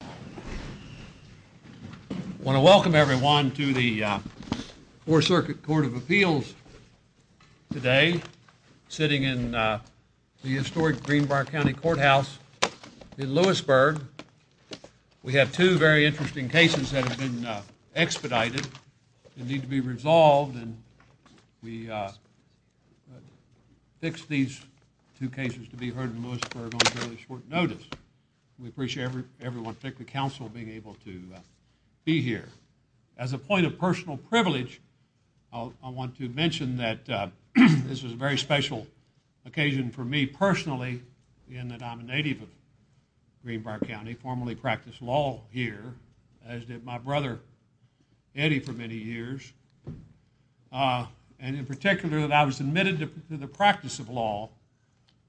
I want to welcome everyone to the Fourth Circuit Court of Appeals today, sitting in the historic Greenbark County Courthouse in Lewisburg. We have two very interesting cases that have been expedited and need to be resolved and we fixed these two cases to be heard in Lewisburg on fairly short notice. We appreciate everyone, particularly counsel, being able to be here. As a point of personal privilege, I want to mention that this is a very special occasion for me personally, in that I'm a native of Greenbark County, formerly practiced law here, as did my brother Eddie for many years, and in particular that I was admitted to the practice of law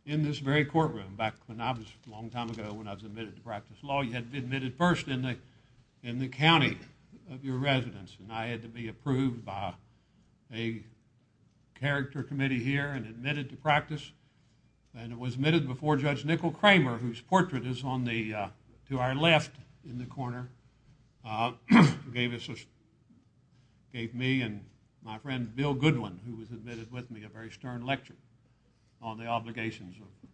in this very long time ago when I was admitted to practice law. You had been admitted first in the county of your residence and I had to be approved by a character committee here and admitted to practice and it was admitted before Judge Nicol Cramer, whose portrait is on the to our left in the corner, gave me and my friend Bill Goodwin, who was admitted with me, a very stern lecture on the obligations of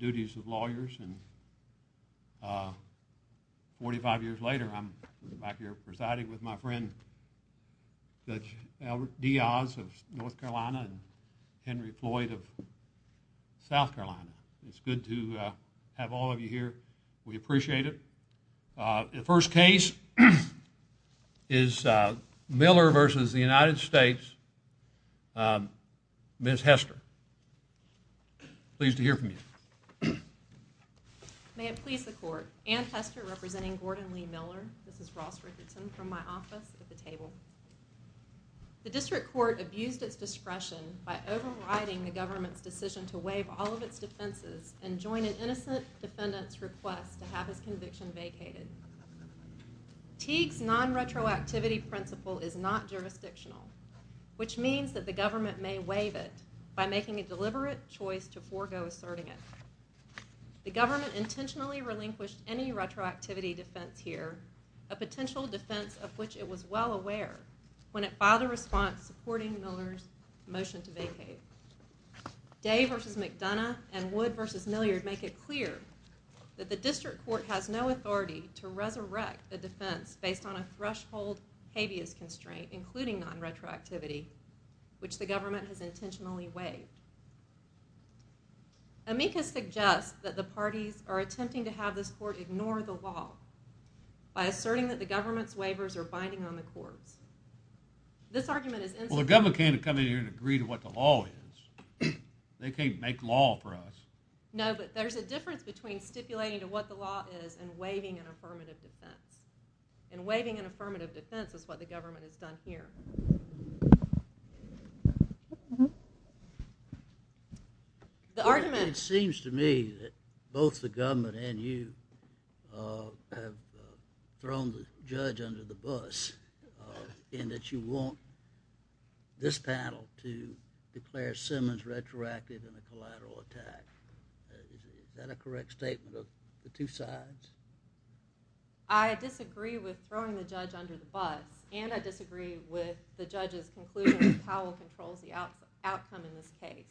lawyers and 45 years later I'm back here presiding with my friend Judge Albert Diaz of North Carolina and Henry Floyd of South Carolina. It's good to have all of you here. We appreciate it. The first case is Miller versus the United States Ms. Hester. Pleased to hear from you. May it please the court. Ann Hester representing Gordon Lee Miller This is Ross Richardson from my office at the table. The district court abused its discretion by overriding the government's decision to waive all of its defenses and join an innocent defendant's request to have his conviction vacated. Teague's non-retroactivity principle is not jurisdictional, which means that the government may waive it by making a deliberate choice to forego asserting it. The government intentionally relinquished any retroactivity defense here, a potential defense of which it was well aware when it filed a response supporting Miller's motion to vacate. Day versus McDonough and Wood versus Milliard make it clear that the district court has no authority to resurrect a defense based on a threshold habeas constraint including non-retroactivity, which the government has intentionally waived. Amicus suggests that the parties are attempting to have this court ignore the law by asserting that the government's waivers are binding on the courts. This argument Well the government can't come in here and agree to what the law is. They can't make law for us. No, but there's a difference between stipulating to what the law is and waiving an affirmative defense. And waiving an affirmative defense here. It seems to me that both the government and you have thrown the judge under the bus in that you want this panel to declare Simmons retroactive in a collateral attack. Is that a correct statement of the two sides? I disagree with throwing the judge under the bus and I disagree with the judge's conclusion that Powell controls the outcome in this case.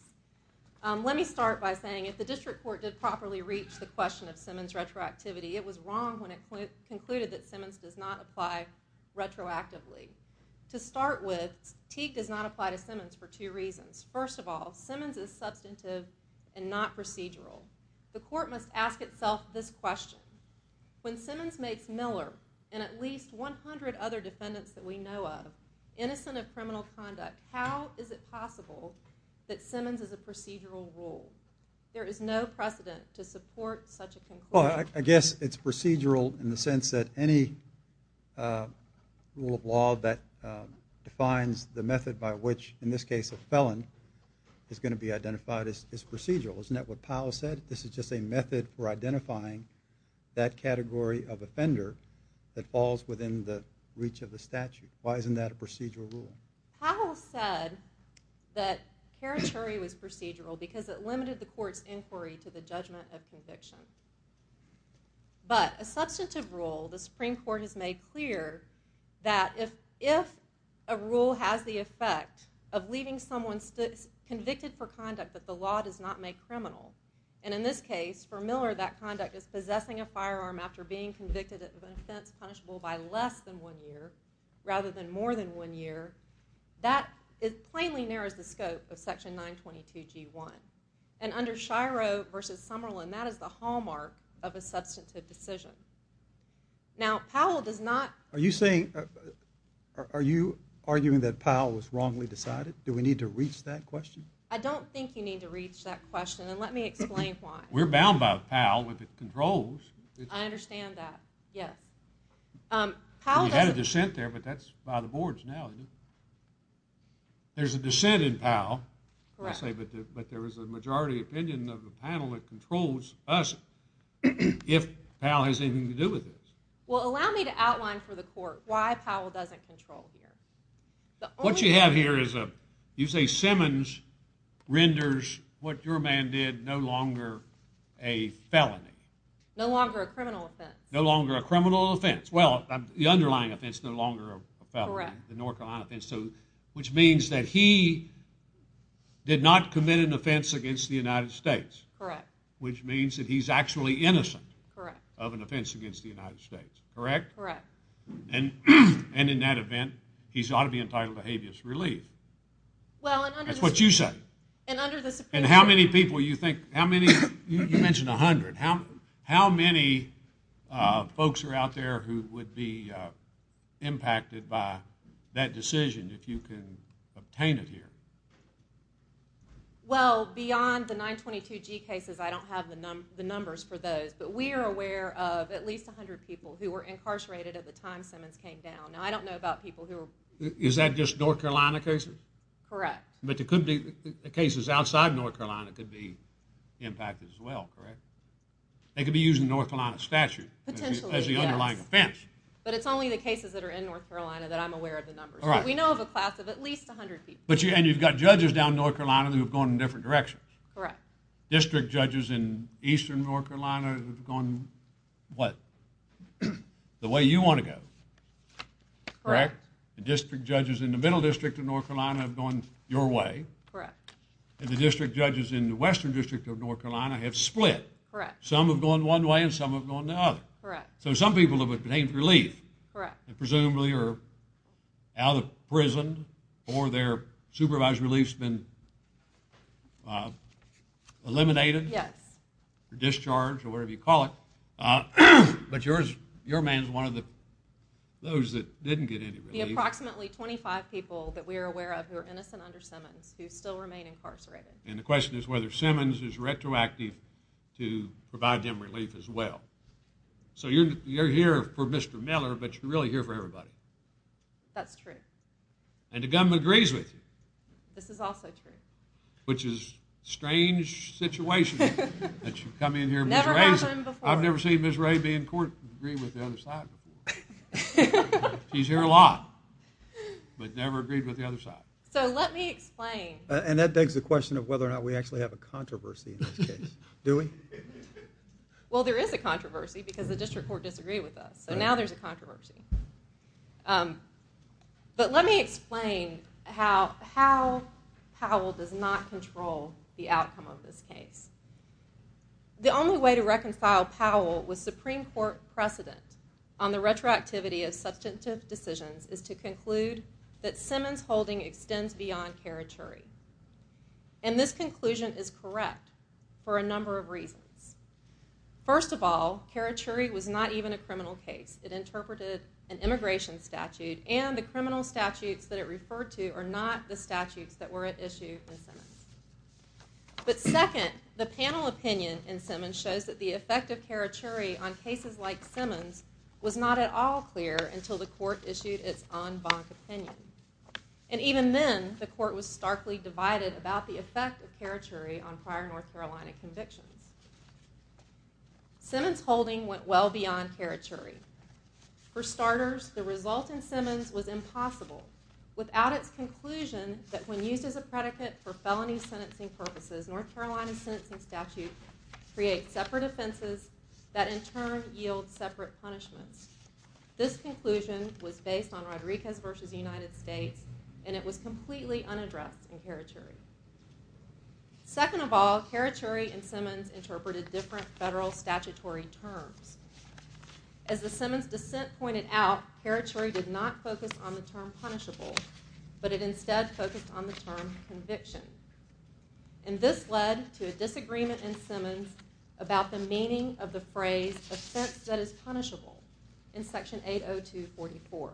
Let me start by saying if the district court did properly reach the question of Simmons retroactivity, it was wrong when it concluded that Simmons does not apply retroactively. To start with, Teague does not apply to Simmons for two reasons. First of all, Simmons is substantive and not procedural. The court must ask itself this question. When Simmons makes Miller and at least 100 other defendants that we know of innocent of criminal conduct, how is it possible that Simmons is a procedural rule? There is no precedent to support such a conclusion. Well, I guess it's procedural in the sense that any rule of law that defines the method by which, in this case, a felon is going to be identified as procedural. Isn't that what Powell said? This is just a method for identifying that category of offender that falls within the reach of the statute. Why isn't that a procedural rule? Powell said that Carachuri was procedural because it limited the court's inquiry to the judgment of conviction. But a substantive rule, the Supreme Court has made clear that if a rule has the effect of leaving someone convicted for conduct that the law does not make criminal, and in this case, for Miller, that conduct is possessing a firearm after being convicted of an offense punishable by less than one year rather than more than one year, that plainly narrows the scope of Section 922 G1. And under Shiro versus Summerlin, that is the hallmark of a substantive decision. Now, Powell does not... Are you arguing that Powell was wrongly decided? Do we need to reach that question? I don't think you need to reach that question, and let me explain why. We're bound by Powell if it controls. I understand that, yes. Powell doesn't... We had a dissent there, but that's by the boards now. There's a dissent in Powell, but there is a majority opinion of the panel that controls us if Powell has anything to do with this. Well, allow me to outline for the court why Powell doesn't control here. What you have here is a... You say Simmons renders what your man did no longer a felony. No longer a criminal offense. No longer a criminal offense. Well, the underlying offense is no longer a felony, the North Carolina offense, which means that he did not commit an offense against the United States, which means that he's actually innocent of an offense against the United States, correct? Correct. And in that event, he's ought to be entitled to habeas relief. That's what you say. And how many people you think... You mentioned 100. How many folks are out there who would be impacted by that decision if you can obtain it here? Well, beyond the 922G cases, I don't have the numbers for those, but we are aware of at least 100 people who were incarcerated at the time Simmons came down. Now, I don't know about people who were... Is that just North Carolina cases? Correct. But there could be cases outside North Carolina could be impacted as well, correct? They could be using the North Carolina statute as the underlying offense. But it's only the cases that are in North Carolina that I'm aware of the numbers. We know of a class of at least 100 people. And you've got judges down in North Carolina who have gone in different directions. Correct. District judges in eastern North Carolina have gone, what, the way you want to go. Correct. The district judges in the middle district of North Carolina have gone your way. Correct. And the district judges in the western district of North Carolina have split. Correct. Some have gone one way and some have gone the other. Correct. So some people have obtained relief. Correct. And presumably are out of prison or their supervised relief's been eliminated. Yes. Or discharged or whatever you call it. But your man's one of those that didn't get any relief. The approximately 25 people that we are aware of who are innocent under Simmons who still remain incarcerated. And the question is whether Simmons is retroactive to provide them relief as well. So you're here for Mr. Miller, but you're really here for everybody. That's true. And the government agrees with you. This is also true. Which is a strange situation. Never happened before. I've never seen Ms. Ray be in court and agree with the other side before. She's here a lot. But never agreed with the other side. So let me explain. And that begs the question of whether or not we actually have a controversy in this case. Do we? Well there is a controversy because the district court disagreed with us. So now there's a controversy. But let me explain how Powell does not control the outcome of this case. The only way to reconcile Powell with Supreme Court precedent on the retroactivity of substantive decisions is to conclude that Simmons holding extends beyond Karachuri. And this conclusion is correct for a number of reasons. First of all, Karachuri was not even a criminal case. It interpreted an immigration statute and the criminal statutes that it referred to are not the statutes that were issued in Simmons. But second, the panel opinion in Simmons shows that the effect of Karachuri on cases like Simmons was not at all clear until the court issued its en banc opinion. And even then, the court was starkly divided about the effect of Karachuri on prior North Carolina convictions. Simmons holding went well beyond Karachuri. For starters, the result in Simmons was impossible without its conclusion that when used as a predicate for felony sentencing purposes, North Carolina's sentencing statute creates separate offenses that in turn yield separate punishments. This conclusion was based on Rodriguez v. United States and it was completely unaddressed in Karachuri. Second of all, Karachuri and Simmons interpreted different federal statutory terms. As the Simmons dissent pointed out, Karachuri did not focus on the term punishable, but it instead focused on the term conviction. And this led to a disagreement in Simmons about the meaning of the phrase offense that is punishable in Section 802-44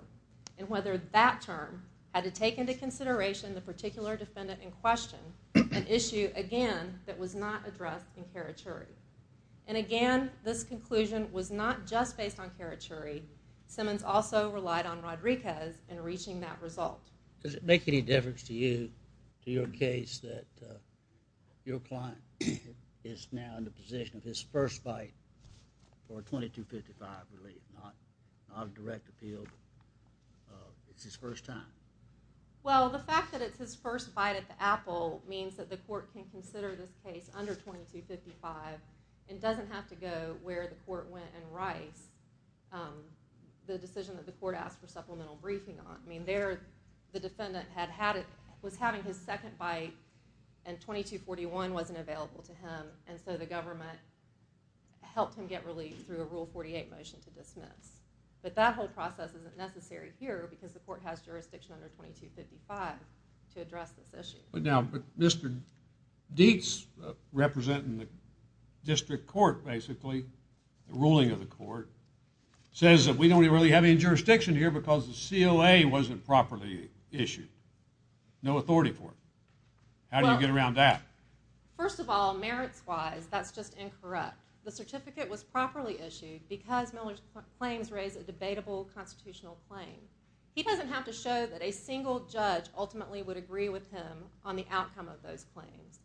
and whether that term had to take into consideration the particular defendant in question, an issue again that was not addressed in Karachuri. And again, this conclusion was not just based on Karachuri. Simmons also relied on Rodriguez in reaching that result. Does it make any difference to you, to your case, that your client is now in the position of his first bite for 2255 relief? Not a direct appeal, but it's his first time. Well, the fact that it's his first bite at the apple means that the court can consider this case under 2255 and doesn't have to go to where the court went and writes the decision that the court asked for supplemental briefing on. I mean, there, the defendant was having his second bite and 2241 wasn't available to him, and so the government helped him get relief through a Rule 48 motion to dismiss. But that whole process isn't necessary here because the court has jurisdiction under 2255 to address this issue. But now, Mr. Dietz, representing the ruling of the court, says that we don't really have any jurisdiction here because the COA wasn't properly issued. No authority for it. How do you get around that? First of all, merits-wise, that's just incorrect. The certificate was properly issued because Miller's claims raise a debatable constitutional claim. He doesn't have to show that a single judge ultimately would agree with him on the outcome of those claims.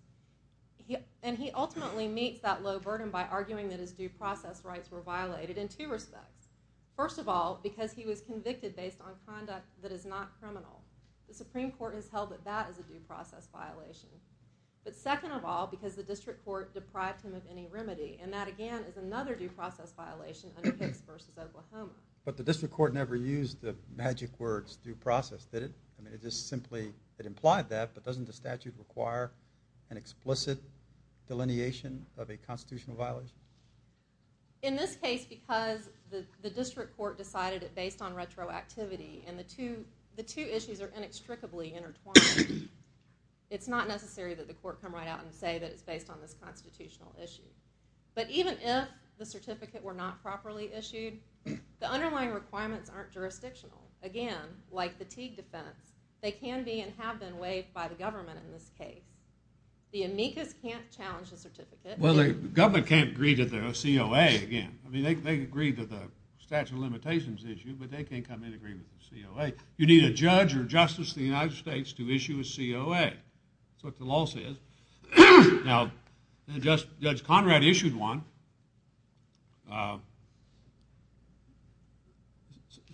And he ultimately meets that low burden by arguing that his due process rights were violated in two respects. First of all, because he was convicted based on conduct that is not criminal. The Supreme Court has held that that is a due process violation. But second of all, because the district court deprived him of any remedy. And that, again, is another due process violation under Hicks v. Oklahoma. But the district court never used the magic words, due process, did it? I mean, it just simply, it implied that, but doesn't the statute require an explicit delineation of a constitutional violation? In this case, because the district court decided it based on retroactivity and the two issues are inextricably intertwined, it's not necessary that the court come right out and say that it's based on this constitutional issue. But even if the certificate were not properly issued, the underlying requirements aren't jurisdictional. Again, like the Teague defense, they can be and have been waived by the government in this case. The amicus can't challenge the certificate. Well, the government can't agree to the COA again. I mean, they agree to the statute of limitations issue, but they can't come in agreement with the COA. You need a judge or justice of the United States to issue a COA. That's what the law says. Now, Judge Conrad issued one.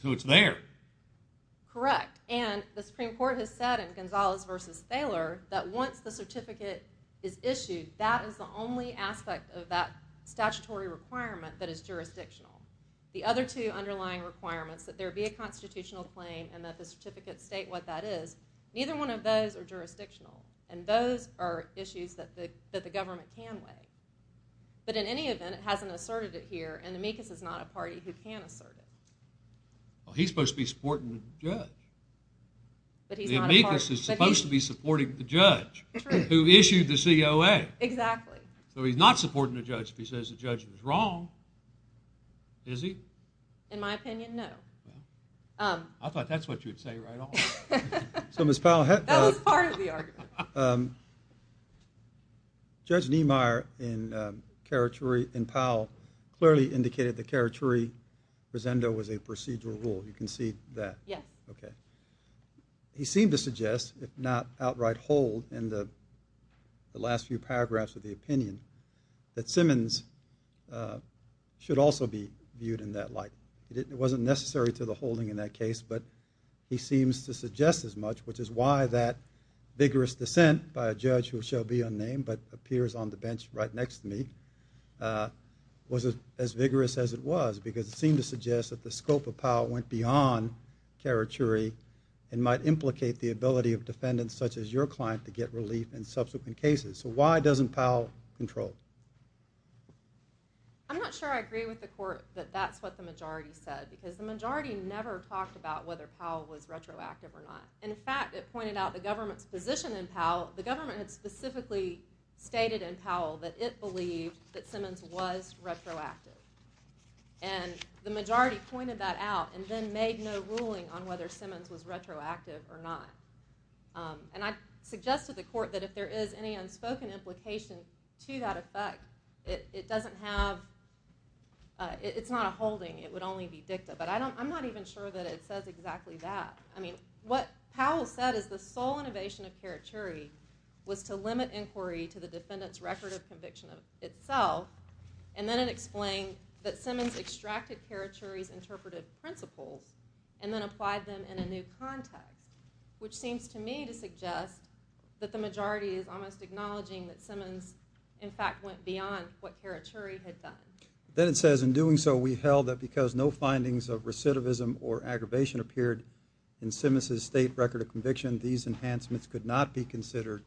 So it's there. Correct. And the Supreme Court has said in Gonzalez v. Thaler that once the certificate is issued, that is the only aspect of that statutory requirement that is jurisdictional. The other two underlying requirements that there be a constitutional claim and that the certificates state what that is, neither one of those are jurisdictional. And those are issues that the government can waive. But in any event, it hasn't asserted it here and amicus is not a party who can assert it. Well, he's supposed to be supporting the judge. The amicus is supposed to be supporting the judge who issued the COA. Exactly. So he's not supporting the judge if he says the judge was wrong. Is he? In my opinion, no. I thought that's what you'd say right off. So, Ms. Powell. That was part of the argument. Judge Niemeyer and Powell clearly indicated the caricature presendo was a procedural rule. You can see that. He seemed to suggest, if not outright hold, in the last few paragraphs of the opinion, that Simmons should also be viewed in that light. It wasn't necessary to the holding in that case, but he seems to suggest as much, which is why that vigorous dissent by a judge who shall be unnamed but appears on the bench right next to me was as vigorous as it was because it seemed to suggest that the scope of Powell went beyond caricature and might implicate the ability of defendants such as your client to get relief in subsequent cases. So why doesn't Powell control? I'm not sure I agree with the court that that's what the majority said because the majority never talked about whether Powell was retroactive or not. In fact, it pointed out the government's position in Powell. The government had specifically stated in that case that Simmons was retroactive. And the majority pointed that out and then made no ruling on whether Simmons was retroactive or not. And I suggested to the court that if there is any unspoken implication to that effect, it doesn't have it's not a holding. It would only be dicta. But I'm not even sure that it says exactly that. I mean, what Powell said is the sole innovation of caricature was to limit inquiry to the defendant's record of conviction itself. And then it explained that Simmons extracted Carichuri's interpretive principles and then applied them in a new context, which seems to me to suggest that the majority is almost acknowledging that Simmons, in fact, went beyond what Carichuri had done. Then it says, in doing so, we held that because no findings of recidivism or aggravation appeared in Simmons's state record of conviction, these enhancements could not be considered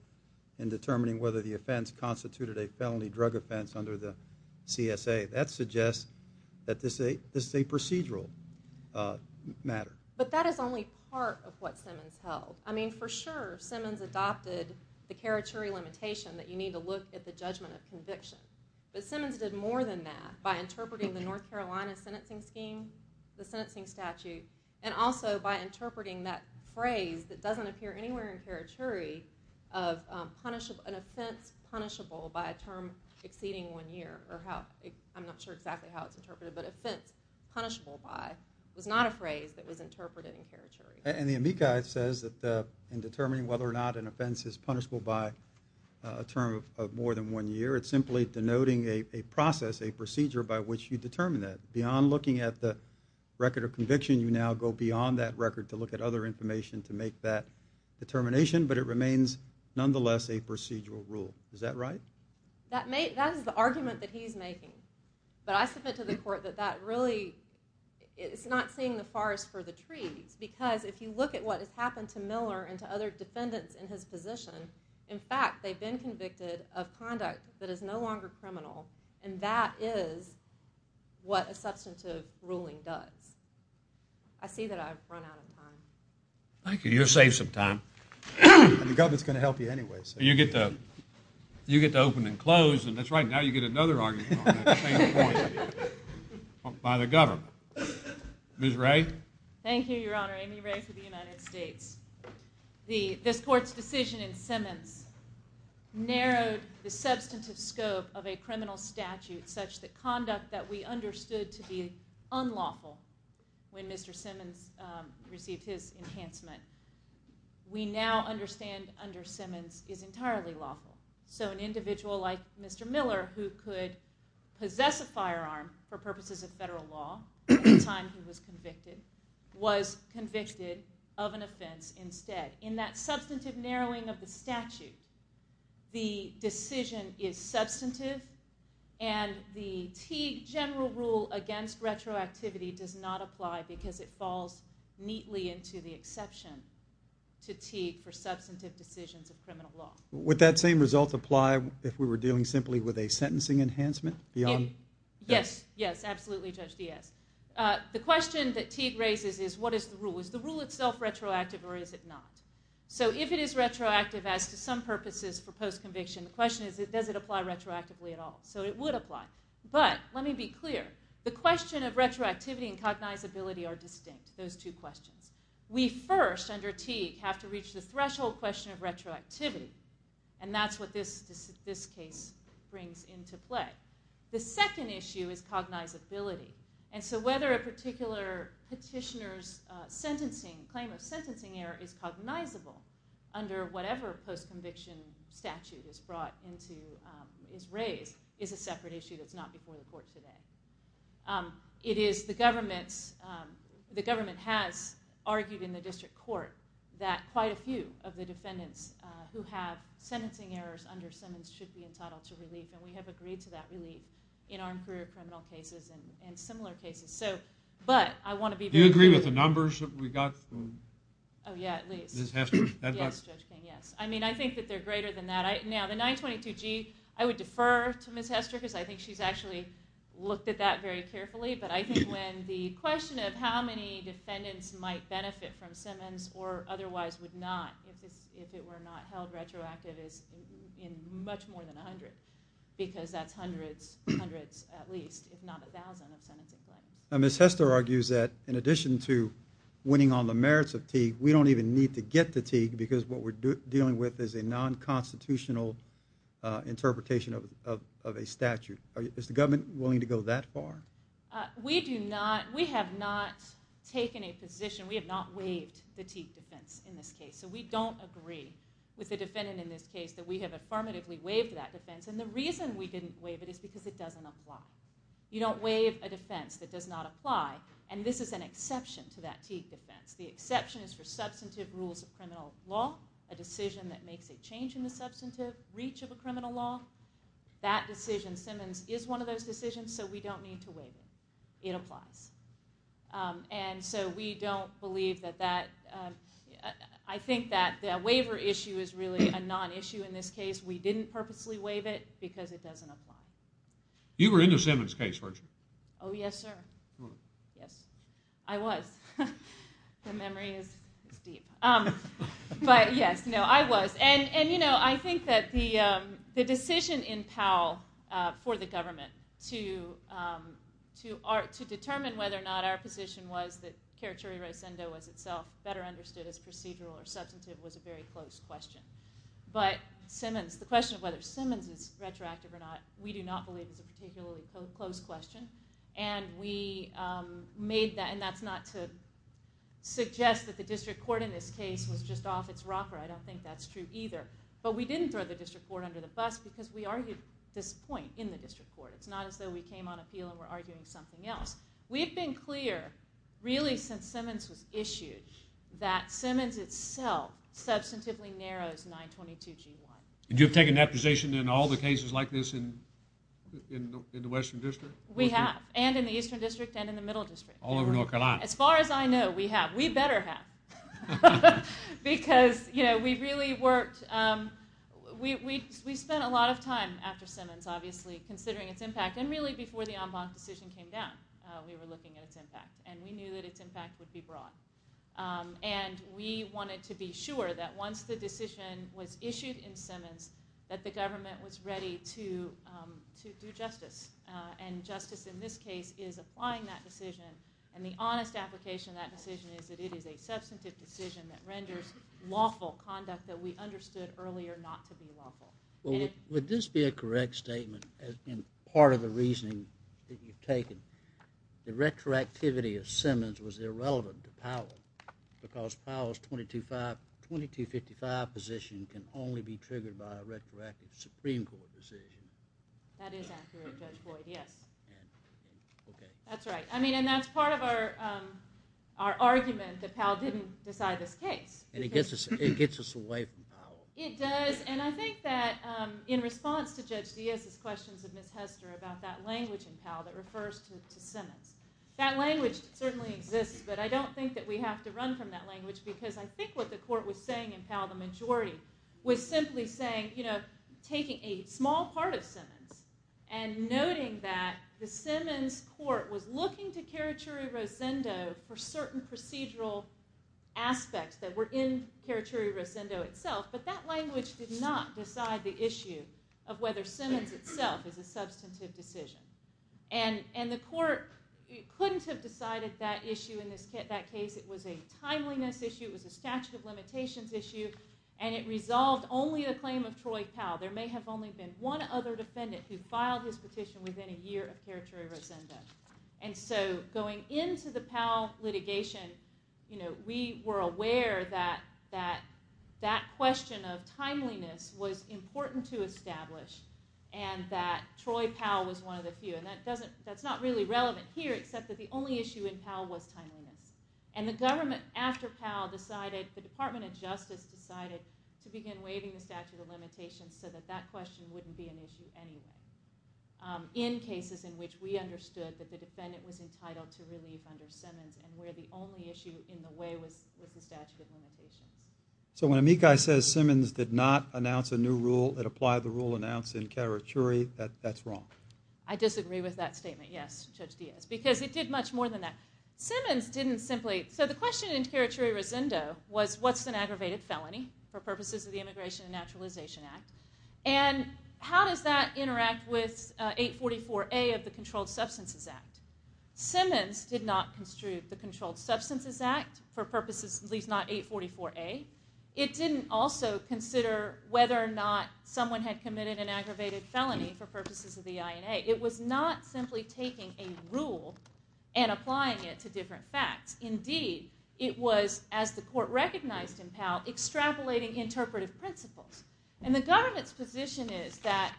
in determining whether the offense constituted a felony drug offense under the CSA. That suggests that this is a procedural matter. But that is only part of what Simmons held. I mean, for sure, Simmons adopted the Carichuri limitation that you need to look at the judgment of conviction. But Simmons did more than that by interpreting the North Carolina sentencing scheme, the sentencing statute, and also by interpreting that phrase that doesn't appear anywhere in Carichuri of an offense punishable by a term exceeding one year. I'm not sure exactly how it's interpreted, but offense punishable by was not a phrase that was interpreted in Carichuri. And the amici says that in determining whether or not an offense is punishable by a term of more than one year, it's simply denoting a process, a procedure by which you determine that. Beyond looking at the record of conviction, you now go beyond that record to look at other information to make that determination, but it remains nonetheless a procedural rule. Is that right? That is the argument that he's making. But I submit to the court that that really it's not seeing the forest for the trees. Because if you look at what has happened to Miller and to other defendants in his position, in fact, they've been convicted of conduct that is no longer criminal, and that is what a substantive ruling does. I see that I've run out of time. Thank you. You saved some time. The government's going to help you anyway. You get to open and close, and that's right, now you get another argument on that by the government. Ms. Ray? Thank you, Your Honor. Amy Ray for the United States. This court's decision in Simmons narrowed the substantive scope of a criminal statute such that conduct that we understood to be unlawful when Mr. Simmons received his enhancement, we now understand under Simmons is entirely lawful. So an individual like Mr. Miller who could possess a firearm for purposes of federal law at the time he was convicted was convicted of an offense instead. In that substantive narrowing of the statute, the decision is substantive, and the Teague general rule against retroactivity does not apply because it falls neatly into the exception to Teague for substantive decisions of criminal law. Would that same result apply if we were dealing simply with a sentencing enhancement? Yes, absolutely, Judge Diaz. The question that Teague raises is what is the rule? Is the rule itself retroactive or is it not? So if it is retroactive as to some purposes for post-conviction, the question is does it apply retroactively at all? So it would apply. But let me be clear, the question of retroactivity and cognizability are distinct, those two questions. We first under Teague have to reach the threshold question of retroactivity and that's what this case brings into play. The second issue is cognizability, and so whether a particular petitioner's claim of sentencing error is cognizable under whatever post-conviction statute is raised is a separate issue that's not before the court today. The government has argued in the district court that quite a few of the defendants who have sentencing errors under Simmons should be entitled to relief, and we have agreed to that relief in armed career criminal cases and similar cases. Do you agree with the numbers that we got? Oh yeah, at least. Judge King, yes. I mean I think that they're greater than that. Now the 922G I would defer to Ms. Hester because I think she's actually looked at that very carefully, but I think when the question of how many defendants might benefit from Simmons or otherwise would not if it were not held retroactive is in much more than 100 because that's hundreds at least, if not a thousand of sentencing claims. Ms. Hester argues that in addition to winning on the merits of Teague, we don't even need to get to Teague because what we're dealing with is a non-constitutional interpretation of a statute. Is the government willing to go that far? We do not we have not taken a position, we have not waived the Teague defense in this case, so we don't agree with the defendant in this case that we have affirmatively waived that defense, and the reason we didn't waive it is because it doesn't apply. You don't waive a defense that does not apply, and this is an exception to that Teague defense. The exception is for substantive rules of criminal law, a decision that makes a change in the substantive reach of a criminal law. That decision, Simmons, is one of those decisions, so we don't need to waive it. It applies. And so we don't believe that that, I think that the waiver issue is really a non-issue in this case. We didn't purposely waive it because it doesn't apply. You were in the Simmons case, weren't you? Oh yes, sir. Yes. I was. The memory is deep. But yes, no, I was. And you know, I think that the decision in Powell for the government to determine whether or not our position was that careturi res endo was itself better understood as procedural or substantive was a very close question. But Simmons, the question of whether Simmons is retroactive or not, we do not believe is a particularly close question. And we made that, and that's not to suggest that the district court in this case was just off its rocker. I don't think that's true either. But we didn't throw the district court under the bus because we argued this point in the district court. It's not as though we came on appeal and we're arguing something else. We've been clear really since Simmons was issued that Simmons itself substantively narrows 922 G1. And you've taken that position in all the cases like this in the western district? We have. And in the eastern district and in the middle district. All over North Carolina. As far as I know, we have. We better have. Because, you know, we really worked, we spent a lot of time after Simmons obviously considering its impact. And really before the en banc decision came down we were looking at its impact. And we knew that its impact would be broad. And we wanted to be sure that once the decision was issued in Simmons that the government was ready to do justice. And justice in this case is applying that decision and the honest application of that decision is that it is a substantive decision that renders lawful conduct that we understood earlier not to be lawful. Would this be a correct statement as part of the reasoning that you've taken? The retroactivity of Simmons was irrelevant to Powell. Because Powell's 2255 position can only be triggered by a retroactive Supreme Court decision. That is accurate, Judge Boyd, yes. That's right. I mean, and that's part of our argument that Powell didn't decide this case. And it gets us away from Powell. It does. And I think that in response to Judge Diaz's questions of Ms. Hester about that language in Powell that refers to Simmons. That language certainly exists, but I don't think that we have to run from that language because I think what the court was saying in Powell, the majority, was simply saying taking a small part of Simmons and noting that the Simmons court was looking to Karachuri-Rosendo for certain procedural aspects that were in Karachuri-Rosendo itself, but that language did not decide the issue of whether Simmons itself is a substantive decision. And the court couldn't have decided that issue in that case. It was a timeliness issue. It was a statute of limitations issue. And it resolved only the claim of Troy Powell. There may have only been one other defendant who filed his petition within a year of Karachuri-Rosendo. And so going into the Powell litigation, we were aware that that question of timeliness was important to establish and that Troy Powell was one of the few. And that's not really relevant here except that the only issue in Powell was timeliness. And the government after Powell decided, the Department of Justice decided to begin waiving the statute of limitations so that that question wouldn't be an issue anyway. In cases in which we understood that the defendant was entitled to relief under Simmons and where the only issue in the way was the statute of limitations. So when Amikai says Simmons did not announce a new rule that applied the rule announced in Karachuri, that's wrong? I disagree with that statement, yes, Judge Diaz, because it did much more than that. Simmons didn't simply, so the question in Karachuri-Rosendo was what's an aggravated felony for purposes of the Immigration and Naturalization Act? And how does that interact with 844A of the Controlled Substances Act? Simmons did not construe the Controlled Substances Act for purposes at least not 844A. It didn't also consider whether or not someone had committed an aggravated felony for purposes of the INA. It was not simply taking a rule and applying it to different facts. Indeed, it was, as the court recognized in Powell, extrapolating interpretive principles. And the government's position is that,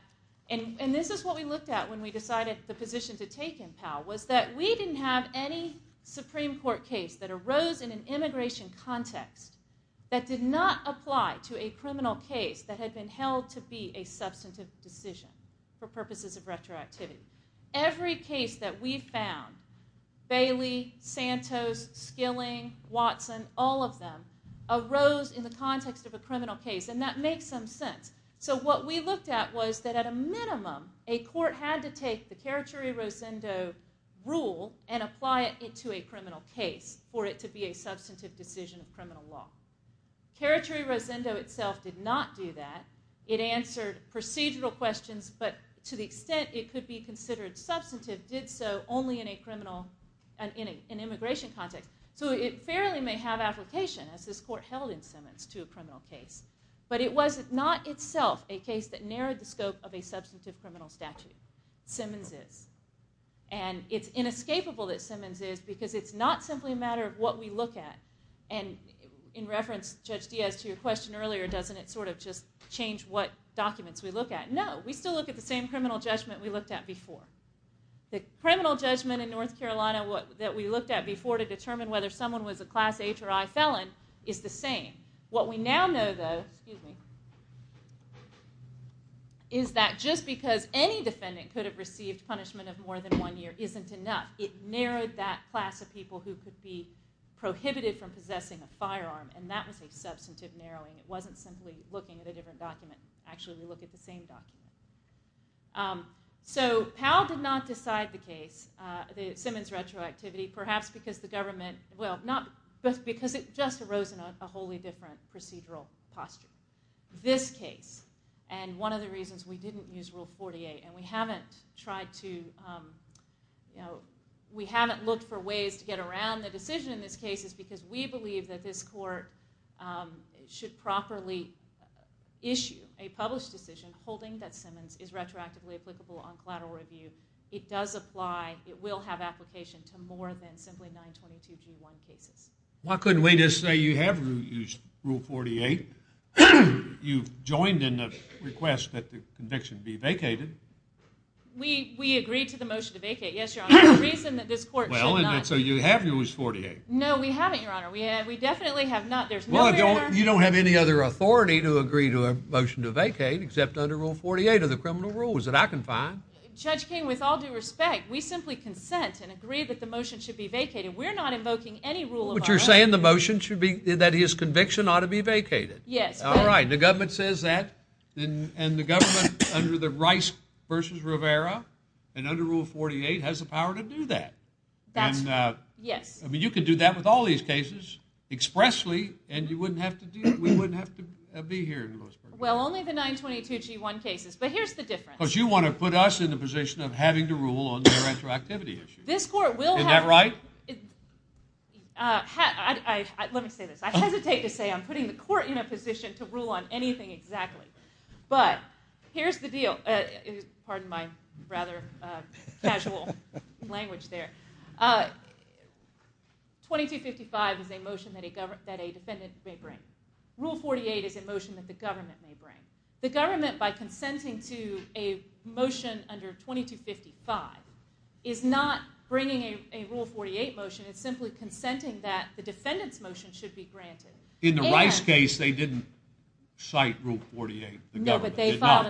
and this is what we looked at when we decided the position to take in Powell, was that we didn't have any Supreme Court case that arose in an immigration context that did not apply to a criminal case that had been held to be a substantive decision for purposes of retroactivity. Every case that we found Bailey, Santos, Skilling, Watson, all of them, arose in the context of a criminal case and that makes some sense. So what we looked at was that at a minimum a court had to take the Karachuri-Rosendo rule and apply it to a criminal case for it to be a substantive decision of criminal law. Karachuri-Rosendo itself did not do that. It answered procedural questions, but to the extent it could be considered substantive, did so only in an immigration context. So it fairly may have application, as this court held in Simmons, to a criminal case. But it was not itself a case that narrowed the scope of a substantive criminal statute. Simmons is. And it's inescapable that Simmons is because it's not simply a matter of what we look at. And in reference, Judge Diaz, to your question earlier, doesn't it sort of just change what documents we look at? No. We still look at the same criminal judgment we looked at before. The criminal judgment in North Carolina that we looked at before to determine whether someone was a Class H or I felon is the same. What we now know, though, is that just because any defendant could have received punishment of more than one year isn't enough. It narrowed And that was a substantive narrowing. It wasn't simply looking at a different document. Actually, we look at the same document. So Powell did not decide the case, the Simmons retroactivity, perhaps because the government, well, because it just arose in a wholly different procedural posture. This case, and one of the reasons we didn't use Rule 48, and we haven't tried to we haven't looked for ways to get around the decision in this case is because we believe that this court should properly issue a published decision holding that Simmons is retroactively applicable on collateral review. It does apply. It will have application to more than simply 922G1 cases. Why couldn't we just say you have used Rule 48? You've joined in the request that the conviction be vacated. We agreed to the motion to vacate. Yes, Your Honor. The reason that this court should not So you have used 48? No, we haven't, Your Honor. We definitely have not Well, you don't have any other authority to agree to a motion to vacate except under Rule 48 or the criminal rules that I can find. Judge King, with all due respect, we simply consent and agree that the motion should be vacated. We're not invoking any rule of our own. But you're saying the motion should be, that his conviction ought to be vacated. Yes. All right. The government says that and the government under the Rice v. Rivera and under Rule 48 has the power to do that. Yes. I mean, you could do that with all these cases expressly and we wouldn't have to be here. Well, only the 922G1 cases. But here's the difference. Because you want to put us in the position of having to rule on their retroactivity issues. Is that right? Let me say this. I hesitate to say I'm putting the court in a position to rule on anything exactly. But here's the deal. Pardon my rather casual language there. 2255 is a motion that a defendant may bring. Rule 48 is a motion that the government may bring. The government by consenting to a motion under 2255 is not bringing a Rule 48 motion. It's simply consenting that the defendant's motion should be granted. In the Rice case, they didn't cite Rule 48. The government did not.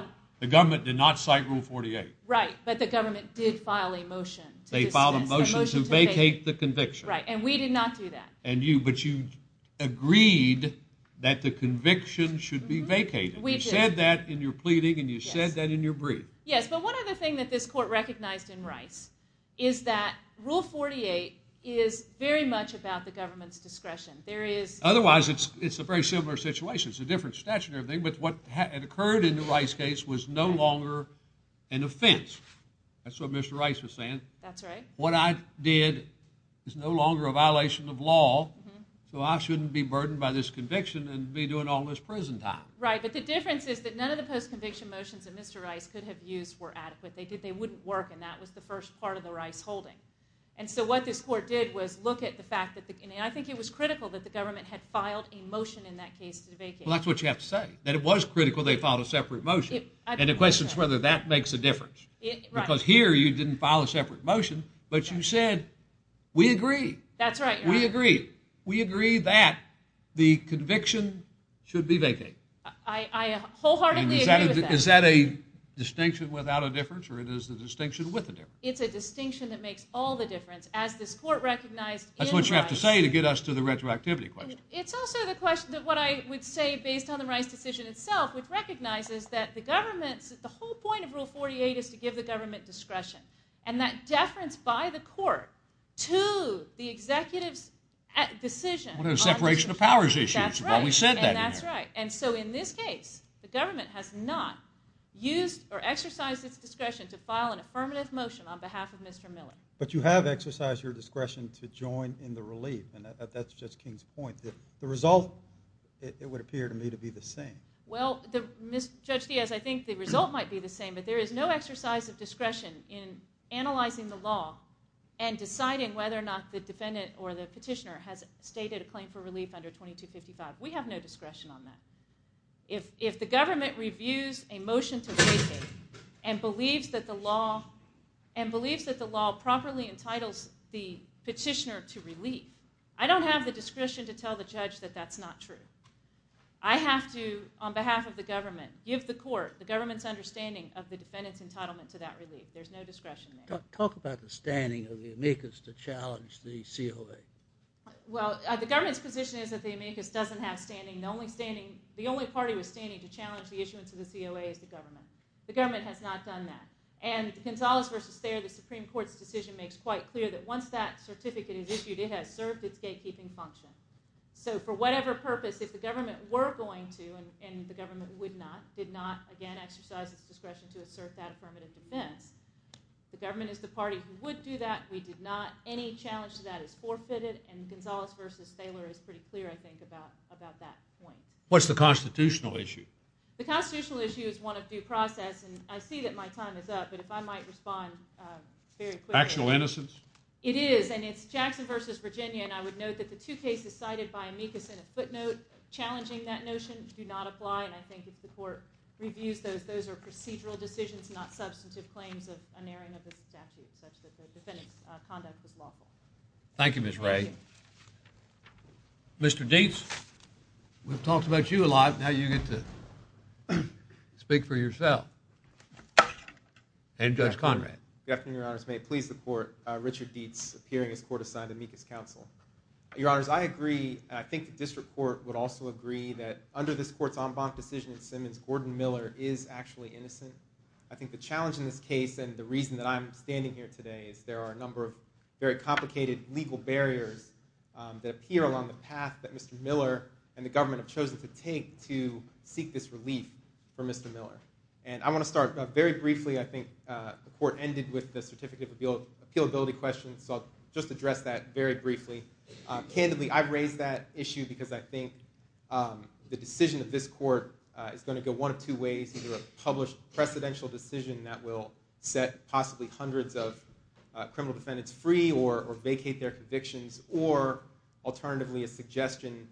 Right. But the government did file a motion. They filed a motion to vacate the conviction. Right. And we did not do that. But you agreed that the conviction should be vacated. We did. You said that in your pleading and you said that in your brief. Yes. But one other thing that this court recognized in Rice is that Rule 48 is very much about the government's discretion. Otherwise, it's a very similar situation. It's a different statute and everything. But what had occurred in the Rice case was no longer an offense. That's what Mr. Rice was saying. That's right. What I did is no longer a violation of law, so I shouldn't be burdened by this conviction and be doing all this prison time. Right. But the difference is that none of the post-conviction motions that Mr. Rice could have used were adequate. They wouldn't work and that was the first part of the Rice holding. And so what this court did was look at the fact that, and I think it was critical that the government had filed a motion in that case to vacate. Well, that's what you have to say. That it was critical they filed a separate motion. And the question is whether that makes a difference. Because here you didn't file a separate motion, but you said, we agree. That's right. We agree. We agree that the conviction should be vacated. I wholeheartedly agree with that. And is that a distinction without a difference or is it a distinction with a difference? It's a distinction that makes all the difference. As this court recognized in Rice. That's what you have to say to get us to the retroactivity question. It's also the question of what I would say based on the Rice decision itself which recognizes that the government's, the whole point of Rule 48 is to give the government discretion. And that deference by the court to the executive's decision. On a separation of powers issue. That's right. And so in this case, the government has not used or exercised its discretion to file an affirmative motion on behalf of Mr. Miller. But you have exercised your discretion to join in the relief. And that's Judge King's point. The result it would appear to me to be the same. Well, Judge Diaz, I think the result might be the same. But there is no exercise of discretion in analyzing the law and deciding whether or not the defendant or the petitioner has stated a claim for relief under 2255. We have no discretion on that. If the government reviews a motion to vacate and believes that the law properly entitles the petitioner to relief, I don't have the discretion to tell the judge that that's not true. I have to, on behalf of the government, give the court, the government's understanding of the defendant's entitlement to that relief. There's no discretion there. Talk about the standing of the amicus to challenge the COA. Well, the government's position is that the amicus doesn't have standing. The only party with standing to challenge the issuance of the COA is the government. The government has not done that. And Gonzalez v. Thaler, the Supreme Court's decision makes quite clear that once that certificate is issued it has served its gatekeeping function. So for whatever purpose, if the government were going to, and the government would not, did not, again, exercise its discretion to assert that affirmative defense, the government is the party who would do that. We did not. Any challenge to that is forfeited. And Gonzalez v. Thaler is pretty clear, I think, about that point. What's the constitutional issue? The constitutional issue is one of due process. And I see that my time is up, but if I might respond very quickly. Actual innocence? It is, and it's Jackson v. Virginia, and I would note that the two cases cited by amicus in a footnote challenging that notion do not apply, and I think if the court reviews those, those are procedural decisions, not substantive claims of unerring of the statute such that the defendant's conduct was lawful. Thank you, Ms. Ray. Mr. Deets, we've talked about you a lot, now you get to speak for yourself. And Judge Conrad. Good afternoon, Your Honors. May it please the court, Richard Deets, appearing as court assigned to amicus counsel. Your Honors, I agree, and I think the district court would also agree, that under this court's en banc decision in Simmons, Gordon Miller is actually innocent. I think the challenge in this case, and the reason that I'm standing here today, is there are a number of very complicated legal barriers that appear along the path that Mr. Miller and the government have chosen to take to get Mr. Miller. And I want to start very briefly, I think the court ended with the certificate of appealability question, so I'll just address that very briefly. Candidly, I raised that issue because I think the decision of this court is going to go one of two ways, either a published precedential decision that will set possibly hundreds of criminal defendants free, or vacate their convictions, or alternatively a suggestion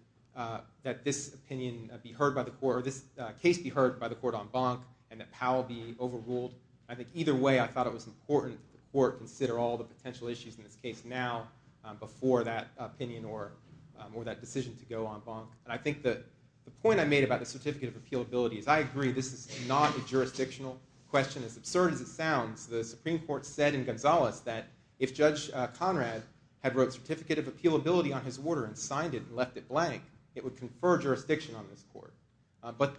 that this opinion be heard by the court, or this case be heard by the court en banc, and that Powell be overruled. I think either way, I thought it was important for the court to consider all the potential issues in this case now, before that opinion or that decision to go en banc. And I think the point I made about the certificate of appealability is I agree, this is not a jurisdictional question. As absurd as it sounds, the Supreme Court said in Gonzales that if Judge Conrad had wrote certificate of appealability on his order and signed it and left it blank, it would confer jurisdiction on this court. But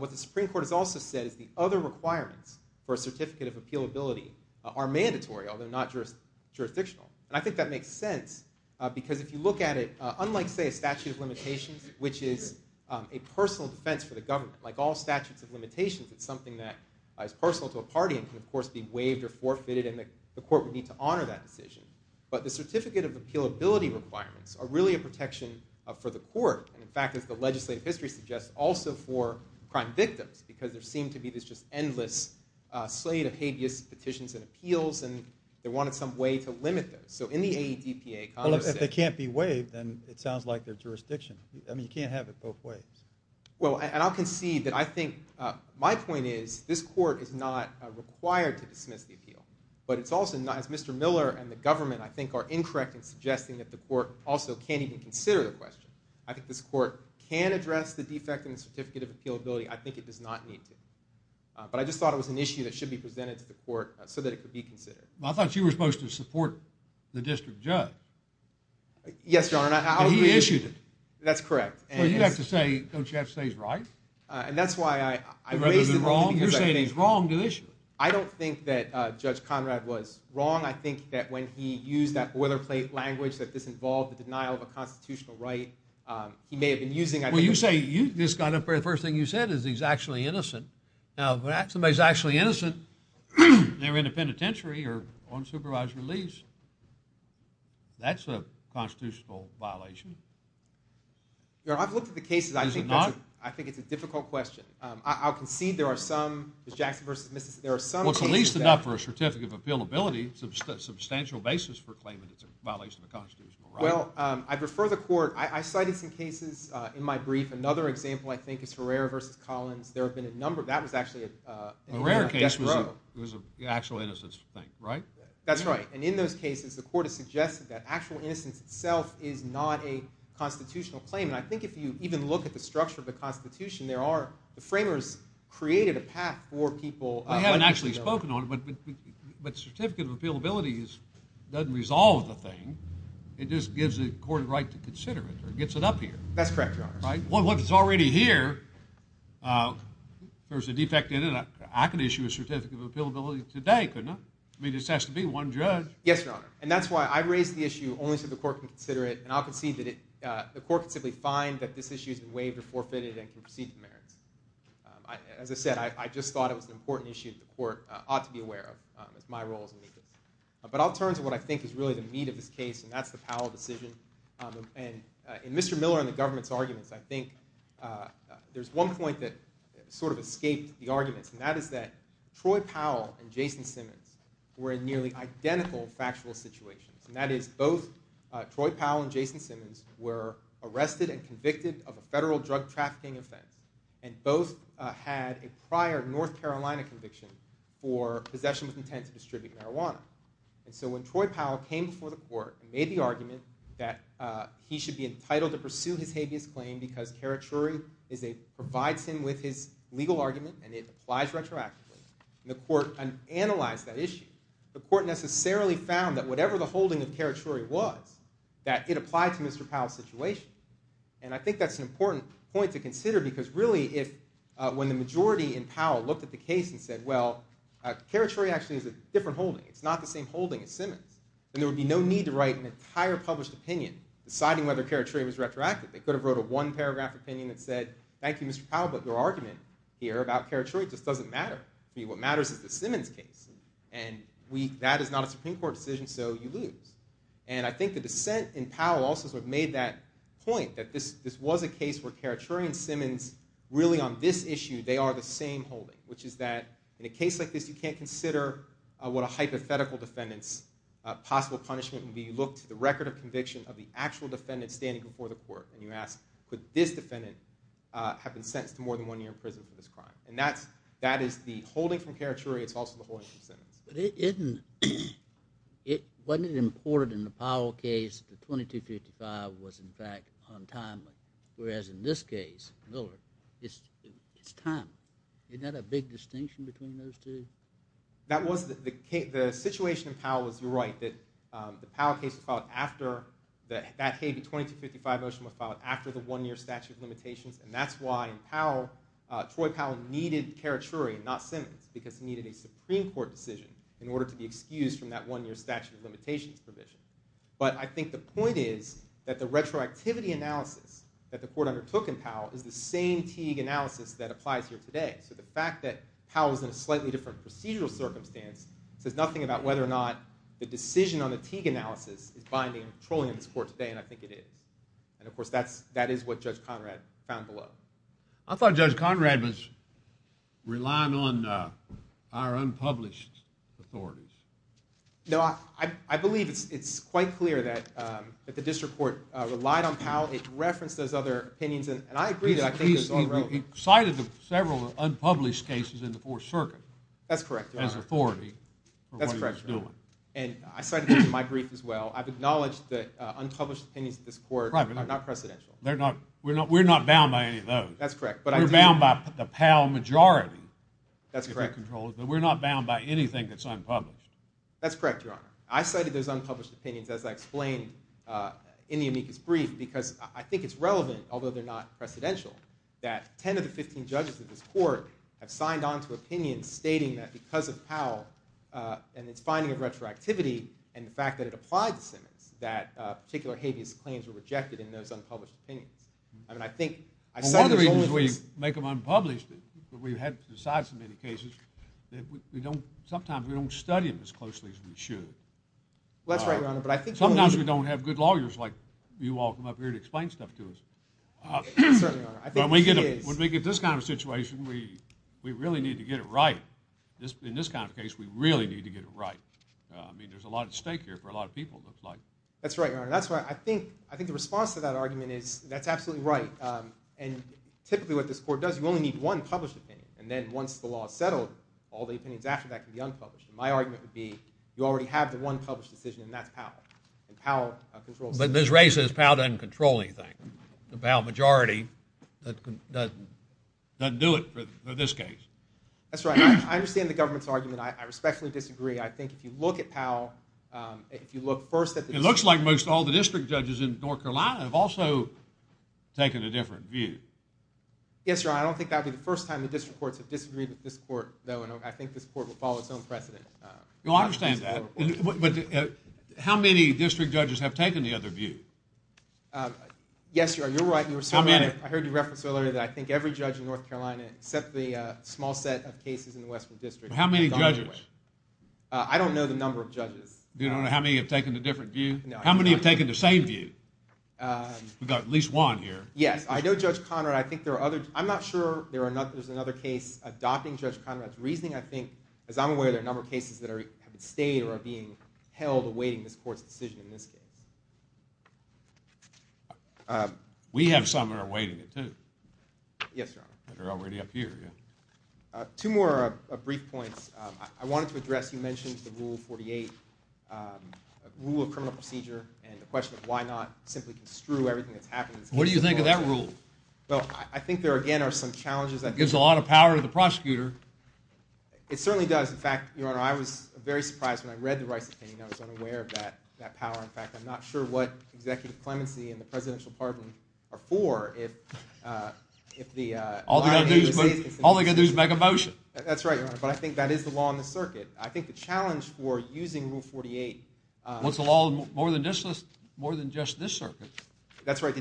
what the Supreme Court has also said is the other requirements for a certificate of appealability are mandatory, although not jurisdictional. And I think that makes sense, because if you look at it, unlike, say, a statute of limitations, which is a personal defense for the government, like all statutes of limitations, it's something that is personal to a party and can, of course, be waived or forfeited, and the court would need to honor that decision. But the certificate of appealability requirements are really a question for the court, and in fact, as the legislative history suggests, also for crime victims because there seemed to be this just endless slate of habeas petitions and appeals, and they wanted some way to limit those. So in the AEDPA, Conrad said... Well, if they can't be waived, then it sounds like they're jurisdictional. I mean, you can't have it both ways. Well, and I'll concede that I think my point is this court is not required to dismiss the appeal, but it's also not, as Mr. Miller and the government, I think, are incorrect in suggesting that the court also can't even consider the question. I think this court can address the defect in the certificate of appealability. I think it does not need to. But I just thought it was an issue that should be presented to the court so that it could be considered. Well, I thought you were supposed to support the district judge. Yes, Your Honor. And he issued it. That's correct. Well, you have to say, don't you have to say he's right? And that's why I raised it... You're saying he's wrong to issue it. I don't think that Judge Conrad was wrong. I think that when he used that boilerplate language that this involved the denial of a constitutional right, he may have been using... Well, you say, the first thing you said is he's actually innocent. Now, when somebody's actually innocent, they're in a penitentiary or on supervised release. That's a constitutional violation. Your Honor, I've looked at the cases. I think it's a difficult question. I'll concede there are some, Ms. Jackson versus Mrs. there are some cases... Well, it's at least enough for a certificate of appealability and a substantial basis for claiming it's a violation of the constitutional right. Well, I'd refer the court... I cited some cases in my brief. Another example I think is Herrera versus Collins. There have been a number... That was actually a death row. Herrera case was an actual innocence thing, right? That's right. And in those cases, the court has suggested that actual innocence itself is not a constitutional claim. And I think if you even look at the structure of the Constitution, there are the framers created a path for people... I haven't actually spoken on it, but certificate of appealability doesn't resolve the thing. It just gives the court a right to consider it or gets it up here. That's correct, Your Honor. Well, if it's already here, there's a defect in it. I could issue a certificate of appealability today, couldn't I? I mean, this has to be one judge. Yes, Your Honor. And that's why I raised the issue only so the court can consider it. And I'll concede that the court can simply find that this issue has been waived or forfeited and can proceed to merits. As I said, I just thought it was something to be aware of. It's my role as a witness. But I'll turn to what I think is really the meat of this case, and that's the Powell decision. And in Mr. Miller and the government's arguments, I think there's one point that sort of escaped the arguments. And that is that Troy Powell and Jason Simmons were in nearly identical factual situations. And that is both Troy Powell and Jason Simmons were arrested and convicted of a federal drug trafficking offense. And both had a prior North Carolina conviction for possession with intent to distribute marijuana. And so when Troy Powell came before the court and made the argument that he should be entitled to pursue his habeas claim because caricature provides him with his legal argument and it applies retroactively, the court analyzed that issue. The court necessarily found that whatever the holding of caricature was, that it applied to Mr. Powell's situation. And I think that's an important point to consider because really if when the majority in Powell looked at the case and said, well, caricature actually is a different holding. It's not the same holding as Simmons. Then there would be no need to write an entire published opinion deciding whether caricature was retroactive. They could have wrote a one-paragraph opinion that said, thank you, Mr. Powell, but your argument here about caricature just doesn't matter. What matters is the Simmons case. And that is not a Supreme Court decision, so you lose. And I think the dissent in Powell also sort of made that point, that this was a case where caricature and Simmons, really on this issue, they are the same holding, which is that in a case like this you can't consider what a hypothetical defendant's possible punishment would be. You look to the record of conviction of the actual defendant standing before the court and you ask, could this defendant have been sentenced to more than one year in prison for this crime? And that is the holding from caricature, it's also the holding from Simmons. But wasn't it important in the Powell case that 2255 was in fact on time, whereas in this case, Miller, it's time. Isn't that a big distinction between those two? The situation in Powell was, you're right, that the Powell case was filed after, that Habee 2255 motion was filed after the one-year statute of limitations, and that's why in Powell, Troy Powell needed caricature and not Simmons, because he needed a Supreme Court decision in order to be excused from that one-year statute of limitations provision. But I think the retroactivity analysis that the court undertook in Powell is the same Teague analysis that applies here today. So the fact that Powell is in a slightly different procedural circumstance says nothing about whether or not the decision on the Teague analysis is binding and patrolling in this court today, and I think it is. And of course that is what Judge Conrad found below. I thought Judge Conrad was relying on our unpublished authorities. No, I believe it's quite clear that the district court relied on Powell. It referenced those other opinions, and I agree that I think those are relevant. He cited several unpublished cases in the Fourth Circuit as authority for what he was doing. And I cited those in my brief as well. I've acknowledged that unpublished opinions of this court are not precedential. We're not bound by any of those. We're bound by the Powell majority. We're not bound by anything that's unpublished. That's correct, Your Honor. I cited those unpublished opinions, as I explained in the amicus brief, because I think it's relevant, although they're not precedential, that 10 of the 15 judges of this court have signed on to opinions stating that because of Powell and its finding of retroactivity and the fact that it applied to Simmons, that particular habeas claims were rejected in those unpublished opinions. I mean, I think... Well, one of the reasons we make them unpublished is that we've had to decide so many cases that we don't...sometimes we don't study them as closely as we should. Well, that's right, Your Honor, but I think... Sometimes we don't have good lawyers like you all come up here to explain stuff to us. Certainly, Your Honor. I think it is. When we get this kind of situation, we really need to get it right. In this kind of case, we really need to get it right. I mean, there's a lot at stake here for a lot of people, it looks like. That's right, Your Honor. I think the response to that argument is, that's absolutely right. And typically what this court does, you only need one published opinion. And then once the law is settled, all the opinions after that can be unpublished. My argument would be, you already have the one published decision, and that's Powell. And Powell controls... But Ms. Ray says Powell doesn't control anything. The Powell majority doesn't do it for this case. That's right. I understand the government's argument. I respectfully disagree. I think if you look at Powell, if you look first at the... It looks like most all the district judges in North Carolina have also taken a different view. Yes, Your Honor, I don't think that would be the first time the district courts have disagreed with this court, though, and I think this court will follow its own precedent. You'll understand that. But how many district judges have taken the other view? Yes, Your Honor, you're right. I heard you reference earlier that I think every judge in North Carolina, except the small set of cases in the Western District... How many judges? I don't know the number of judges. You don't know how many have taken a different view? No. How many have taken the same view? We've got at least one here. Yes, I know Judge Conrad, I think there's another case adopting Judge Conrad's reasoning. I think, as I'm aware, there are a number of cases that have stayed or are being held awaiting this court's decision in this case. We have some that are awaiting it, too. Yes, Your Honor. They're already up here, yeah. Two more brief points. I wanted to address, you mentioned the Rule 48, Rule of Criminal Procedure, and the question of why not simply construe everything that's happened... What do you think of that rule? Well, I think there, again, are some challenges... It gives a lot of power to the prosecutor. It certainly does. In fact, Your Honor, I was very surprised when I read the Rice opinion. I was unaware of that power. In fact, I'm not sure what executive clemency and the presidential pardon are for if the line of agency... All they're going to do is make a motion. That's right, Your Honor, but I think that is the law in the circuit. I think the challenge for using Rule 48... Well, it's a law more than just this circuit. That's right, the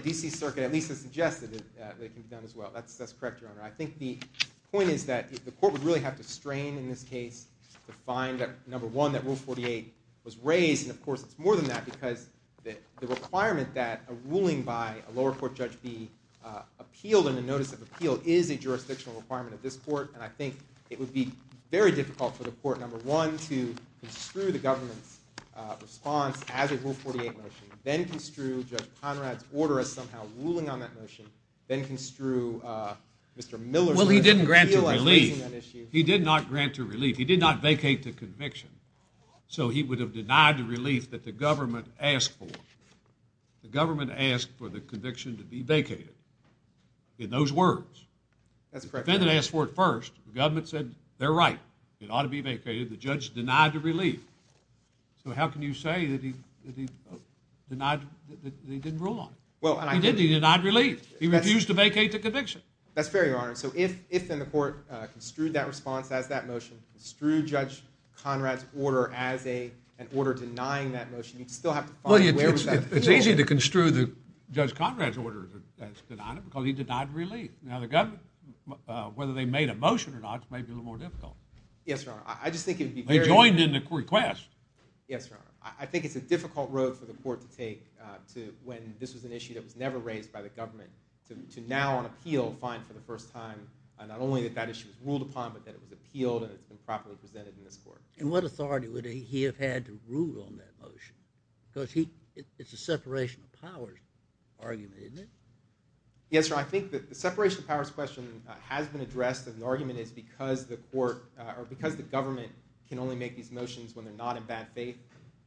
court would really have to strain in this case to find, number one, that Rule 48 was raised, and of course it's more than that because the requirement that a ruling by a lower court judge be appealed in a notice of appeal is a jurisdictional requirement of this court, and I think it would be very difficult for the court, number one, to construe the government's response as a Rule 48 motion, then construe Judge Conrad's order as somehow ruling on that motion, then construe Mr. Miller's order... Well, he didn't grant a relief. He did not grant a relief. He did not vacate the conviction. So he would have denied the relief that the government asked for. The government asked for the conviction to be vacated. In those words. That's correct, Your Honor. The defendant asked for it first. The government said, they're right. It ought to be vacated. The judge denied the relief. So how can you say that he denied that he didn't rule on it? He did. He denied relief. He refused to vacate the conviction. That's fair, Your Honor. So if then the court construed that response as that motion, construed Judge Conrad's order as an order denying that motion, you'd still have to find... It's easy to construe Judge Conrad's order as denying it because he denied relief. Now the government, whether they made a motion or not, may be a little more difficult. Yes, Your Honor. I just think it would be very... They joined in the request. Yes, Your Honor. I think it's a difficult road for the court to take when this was an issue that was never raised by the government to now on appeal find for the first time not only that that issue was ruled upon, but that it was appealed and it's been properly presented in this court. And what authority would he have had to rule on that motion? Because it's a separation of powers argument, isn't it? Yes, Your Honor. I think the separation of powers question has been addressed and the argument is because the government can only make these motions when they're not in bad faith.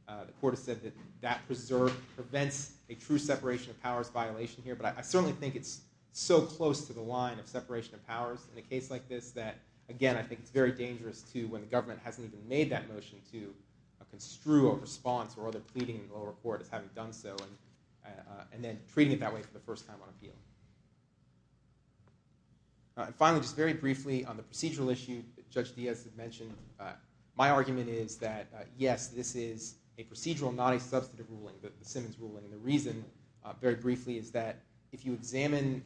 The court has said that that preserve prevents a true separation of powers violation here, but I certainly think it's so close to the line of separation of powers in a case like this that, again, I think it's very dangerous to, when the government hasn't even made that motion to construe a response or other pleading in the lower court as having done so and then treating it that way for the first time on appeal. And finally, just very briefly on the procedural issue that Judge Diaz had mentioned, my argument is that, yes, this is a procedural, not a substantive ruling, but the Simmons ruling. And the reason very briefly is that if you examine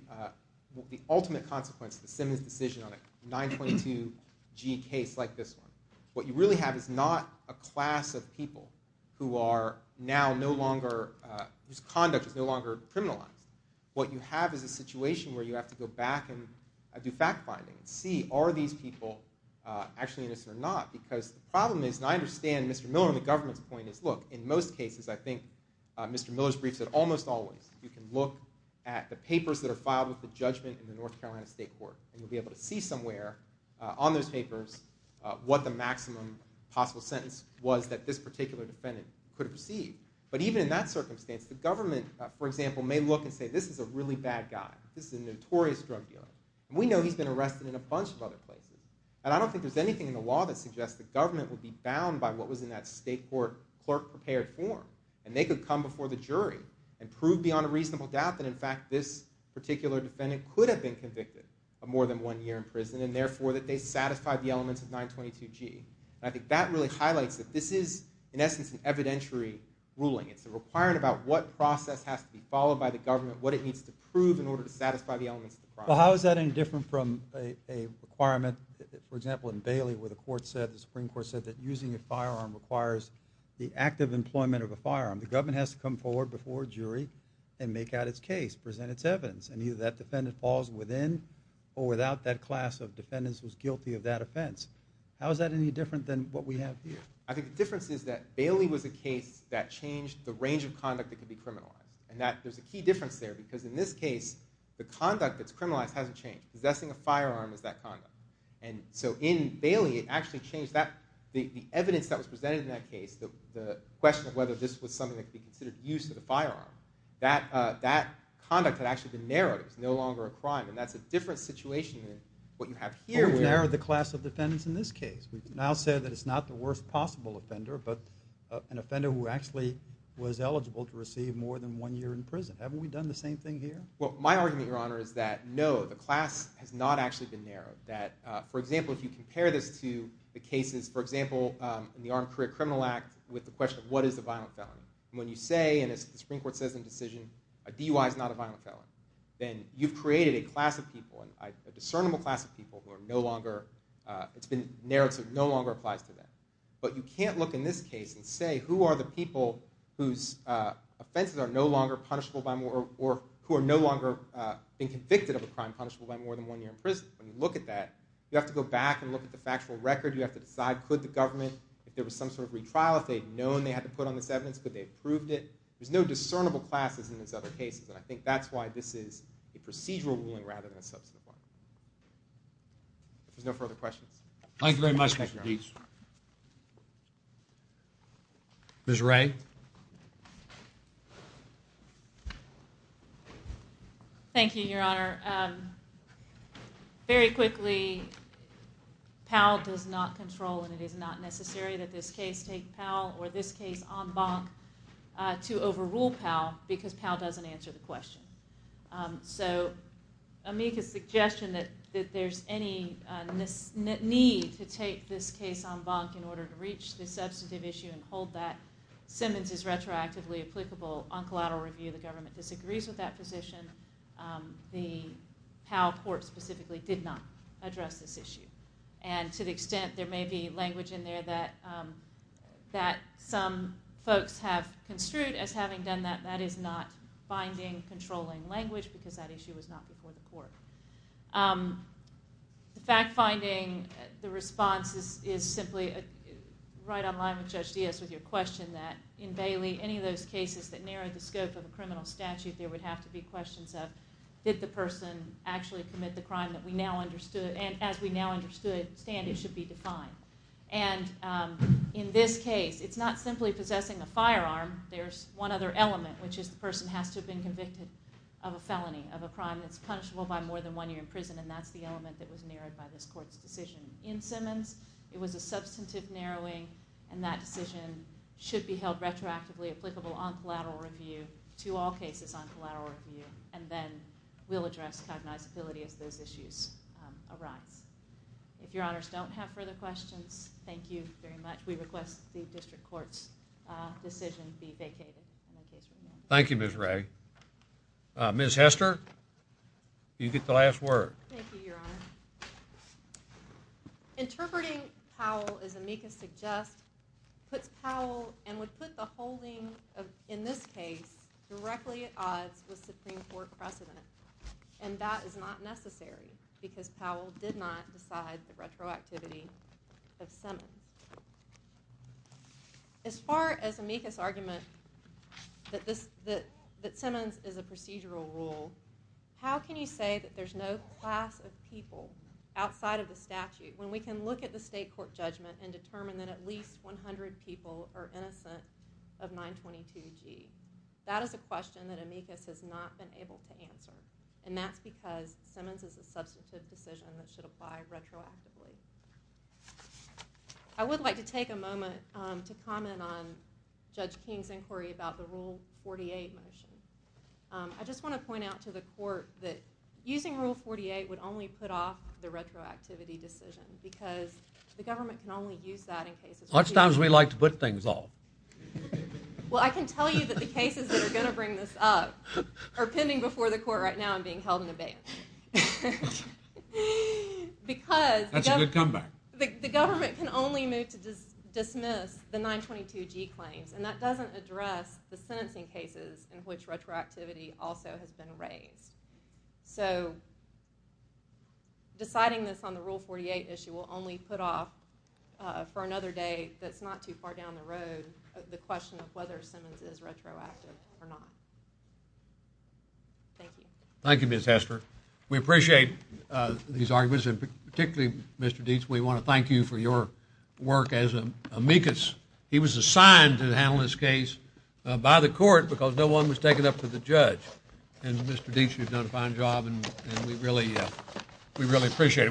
the ultimate consequence of the Simmons decision on a 922G case like this one, what you really have is not a class of people who are now no longer, whose conduct is no longer criminalized. What you have is a situation where you have to go back and do fact finding and see, are these people actually innocent or not? Because the problem is, and I understand Mr. Miller and the government's point is, look, in most cases I think Mr. Miller's brief said almost always you can look at the papers that are filed with the judgment in the North Carolina State Court and you'll be able to see somewhere on those papers what the maximum possible sentence was that this particular defendant could have received. But even in that circumstance the government, for example, may look and say, this is a really bad guy. This is a guy who's been arrested in a bunch of other places. And I don't think there's anything in the law that suggests the government would be bound by what was in that state court clerk prepared form. And they could come before the jury and prove beyond a reasonable doubt that in fact this particular defendant could have been convicted of more than one year in prison and therefore that they satisfied the elements of 922G. And I think that really highlights that this is, in essence, an evidentiary ruling. It's a requirement about what process has to be followed by the government, what it needs to prove in order to satisfy the elements of the process. Well, how is that any different from a requirement, for example, in Bailey where the Supreme Court said that using a firearm requires the active employment of a firearm. The government has to come forward before a jury and make out its case, present its evidence. And either that defendant falls within or without that class of defendants who's guilty of that offense. How is that any different than what we have here? I think the difference is that Bailey was a case that changed the range of conduct that could be criminalized. And there's a key difference there because in this case, the conduct that's criminalized hasn't changed. Possessing a firearm is that conduct. And so in Bailey, it actually changed the evidence that was presented in that case, the question of whether this was something that could be considered use of the firearm. That conduct had actually been narrowed. It was no longer a crime. And that's a different situation than what you have here. We've narrowed the class of defendants in this case. We've now said that it's not the worst possible more than one year in prison. Haven't we done the same thing here? Well, my argument, Your Honor, is that no, the class has not actually been narrowed. That, for example, if you compare this to the cases, for example, in the Armed Career Criminal Act, with the question of what is a violent felon. When you say, and as the Supreme Court says in the decision, a DUI is not a violent felon. Then you've created a class of people, a discernible class of people who are no longer, it's been narrowed so it no longer applies to them. But you can't look in this case and say who are the people whose offenses are no longer punishable by more or who are no longer being convicted of a crime punishable by more than one year in prison. When you look at that, you have to go back and look at the factual record. You have to decide, could the government if there was some sort of retrial, if they had known they had to put on this evidence, could they have proved it? There's no discernible classes in these other cases. And I think that's why this is a procedural ruling rather than a substantive one. If there's no further questions. Thank you very much, Mr. Deese. Ms. Ray. Thank you, Your Honor. Very quickly, Powell does not control and it is not necessary that this case take Powell or this case en banc to overrule Powell because Powell doesn't answer the question. So, Amika's suggestion that there's any need to take this case en banc in order to reach the substantive issue and hold that Simmons is retroactively applicable on collateral review, the government disagrees with that position. The Powell court specifically did not address this issue. And to the extent there may be language in there that some folks have construed as having done that, that is not binding, controlling language because that issue was not before the court. The fact finding, the response is simply right on line with Judge Deese with your question that in Bailey, any of those cases that narrowed the scope of a criminal statute, there would have to be questions of did the person actually commit the crime that we now understood and as we now understand it should be defined. And in this case, it's not simply possessing a firearm, there's one other element, which is the person has to have been convicted of a crime that's punishable by more than one year in prison and that's the element that was narrowed by this court's decision. In Simmons, it was a substantive narrowing and that decision should be held retroactively applicable on collateral review to all cases on collateral review and then we'll address cognizability as those issues arise. If your honors don't have further questions, thank you very much. We request the district court's decision be vacated. Thank you, Ms. Ray. Ms. Hester, you get the last word. Thank you, your honor. Interpreting Powell as amicus suggest puts Powell and would put the holding in this case directly at odds with Supreme Court precedent and that is not necessary because Powell did not decide the retroactivity of Simmons. As far as amicus argument that Simmons is a procedural rule, how can you say that there's no class of people outside of the statute when we can look at the state court judgment and determine that at least 100 people are innocent of 922G? That is a question that amicus has not been able to answer and that's because Simmons is a substantive decision that should apply retroactively. I would like to take a moment to comment on Judge King's inquiry about the Rule 48 motion. I just want to point out to the court that using Rule 48 would only put off the retroactivity decision because the government can only use that in cases... How much time do we like to put things off? Well, I can tell you that the cases that are going to bring this up are pending before the court right now and being held in abeyance. That's a good comeback. Because the government can only move to dismiss the 922G claims and that doesn't address the sentencing cases in which retroactivity also has been raised. So, deciding this on the Rule 48 issue will only put off for another day that's not too far down the road the question of whether Simmons is retroactive or not. Thank you. Thank you, Ms. Hester. We appreciate these arguments and particularly, Mr. Dietz, we want to thank you for your work as amicus. He was assigned to handle this case by the court because no one was taking up for the judge. And Mr. Dietz, you've done a fine job and we really appreciate it.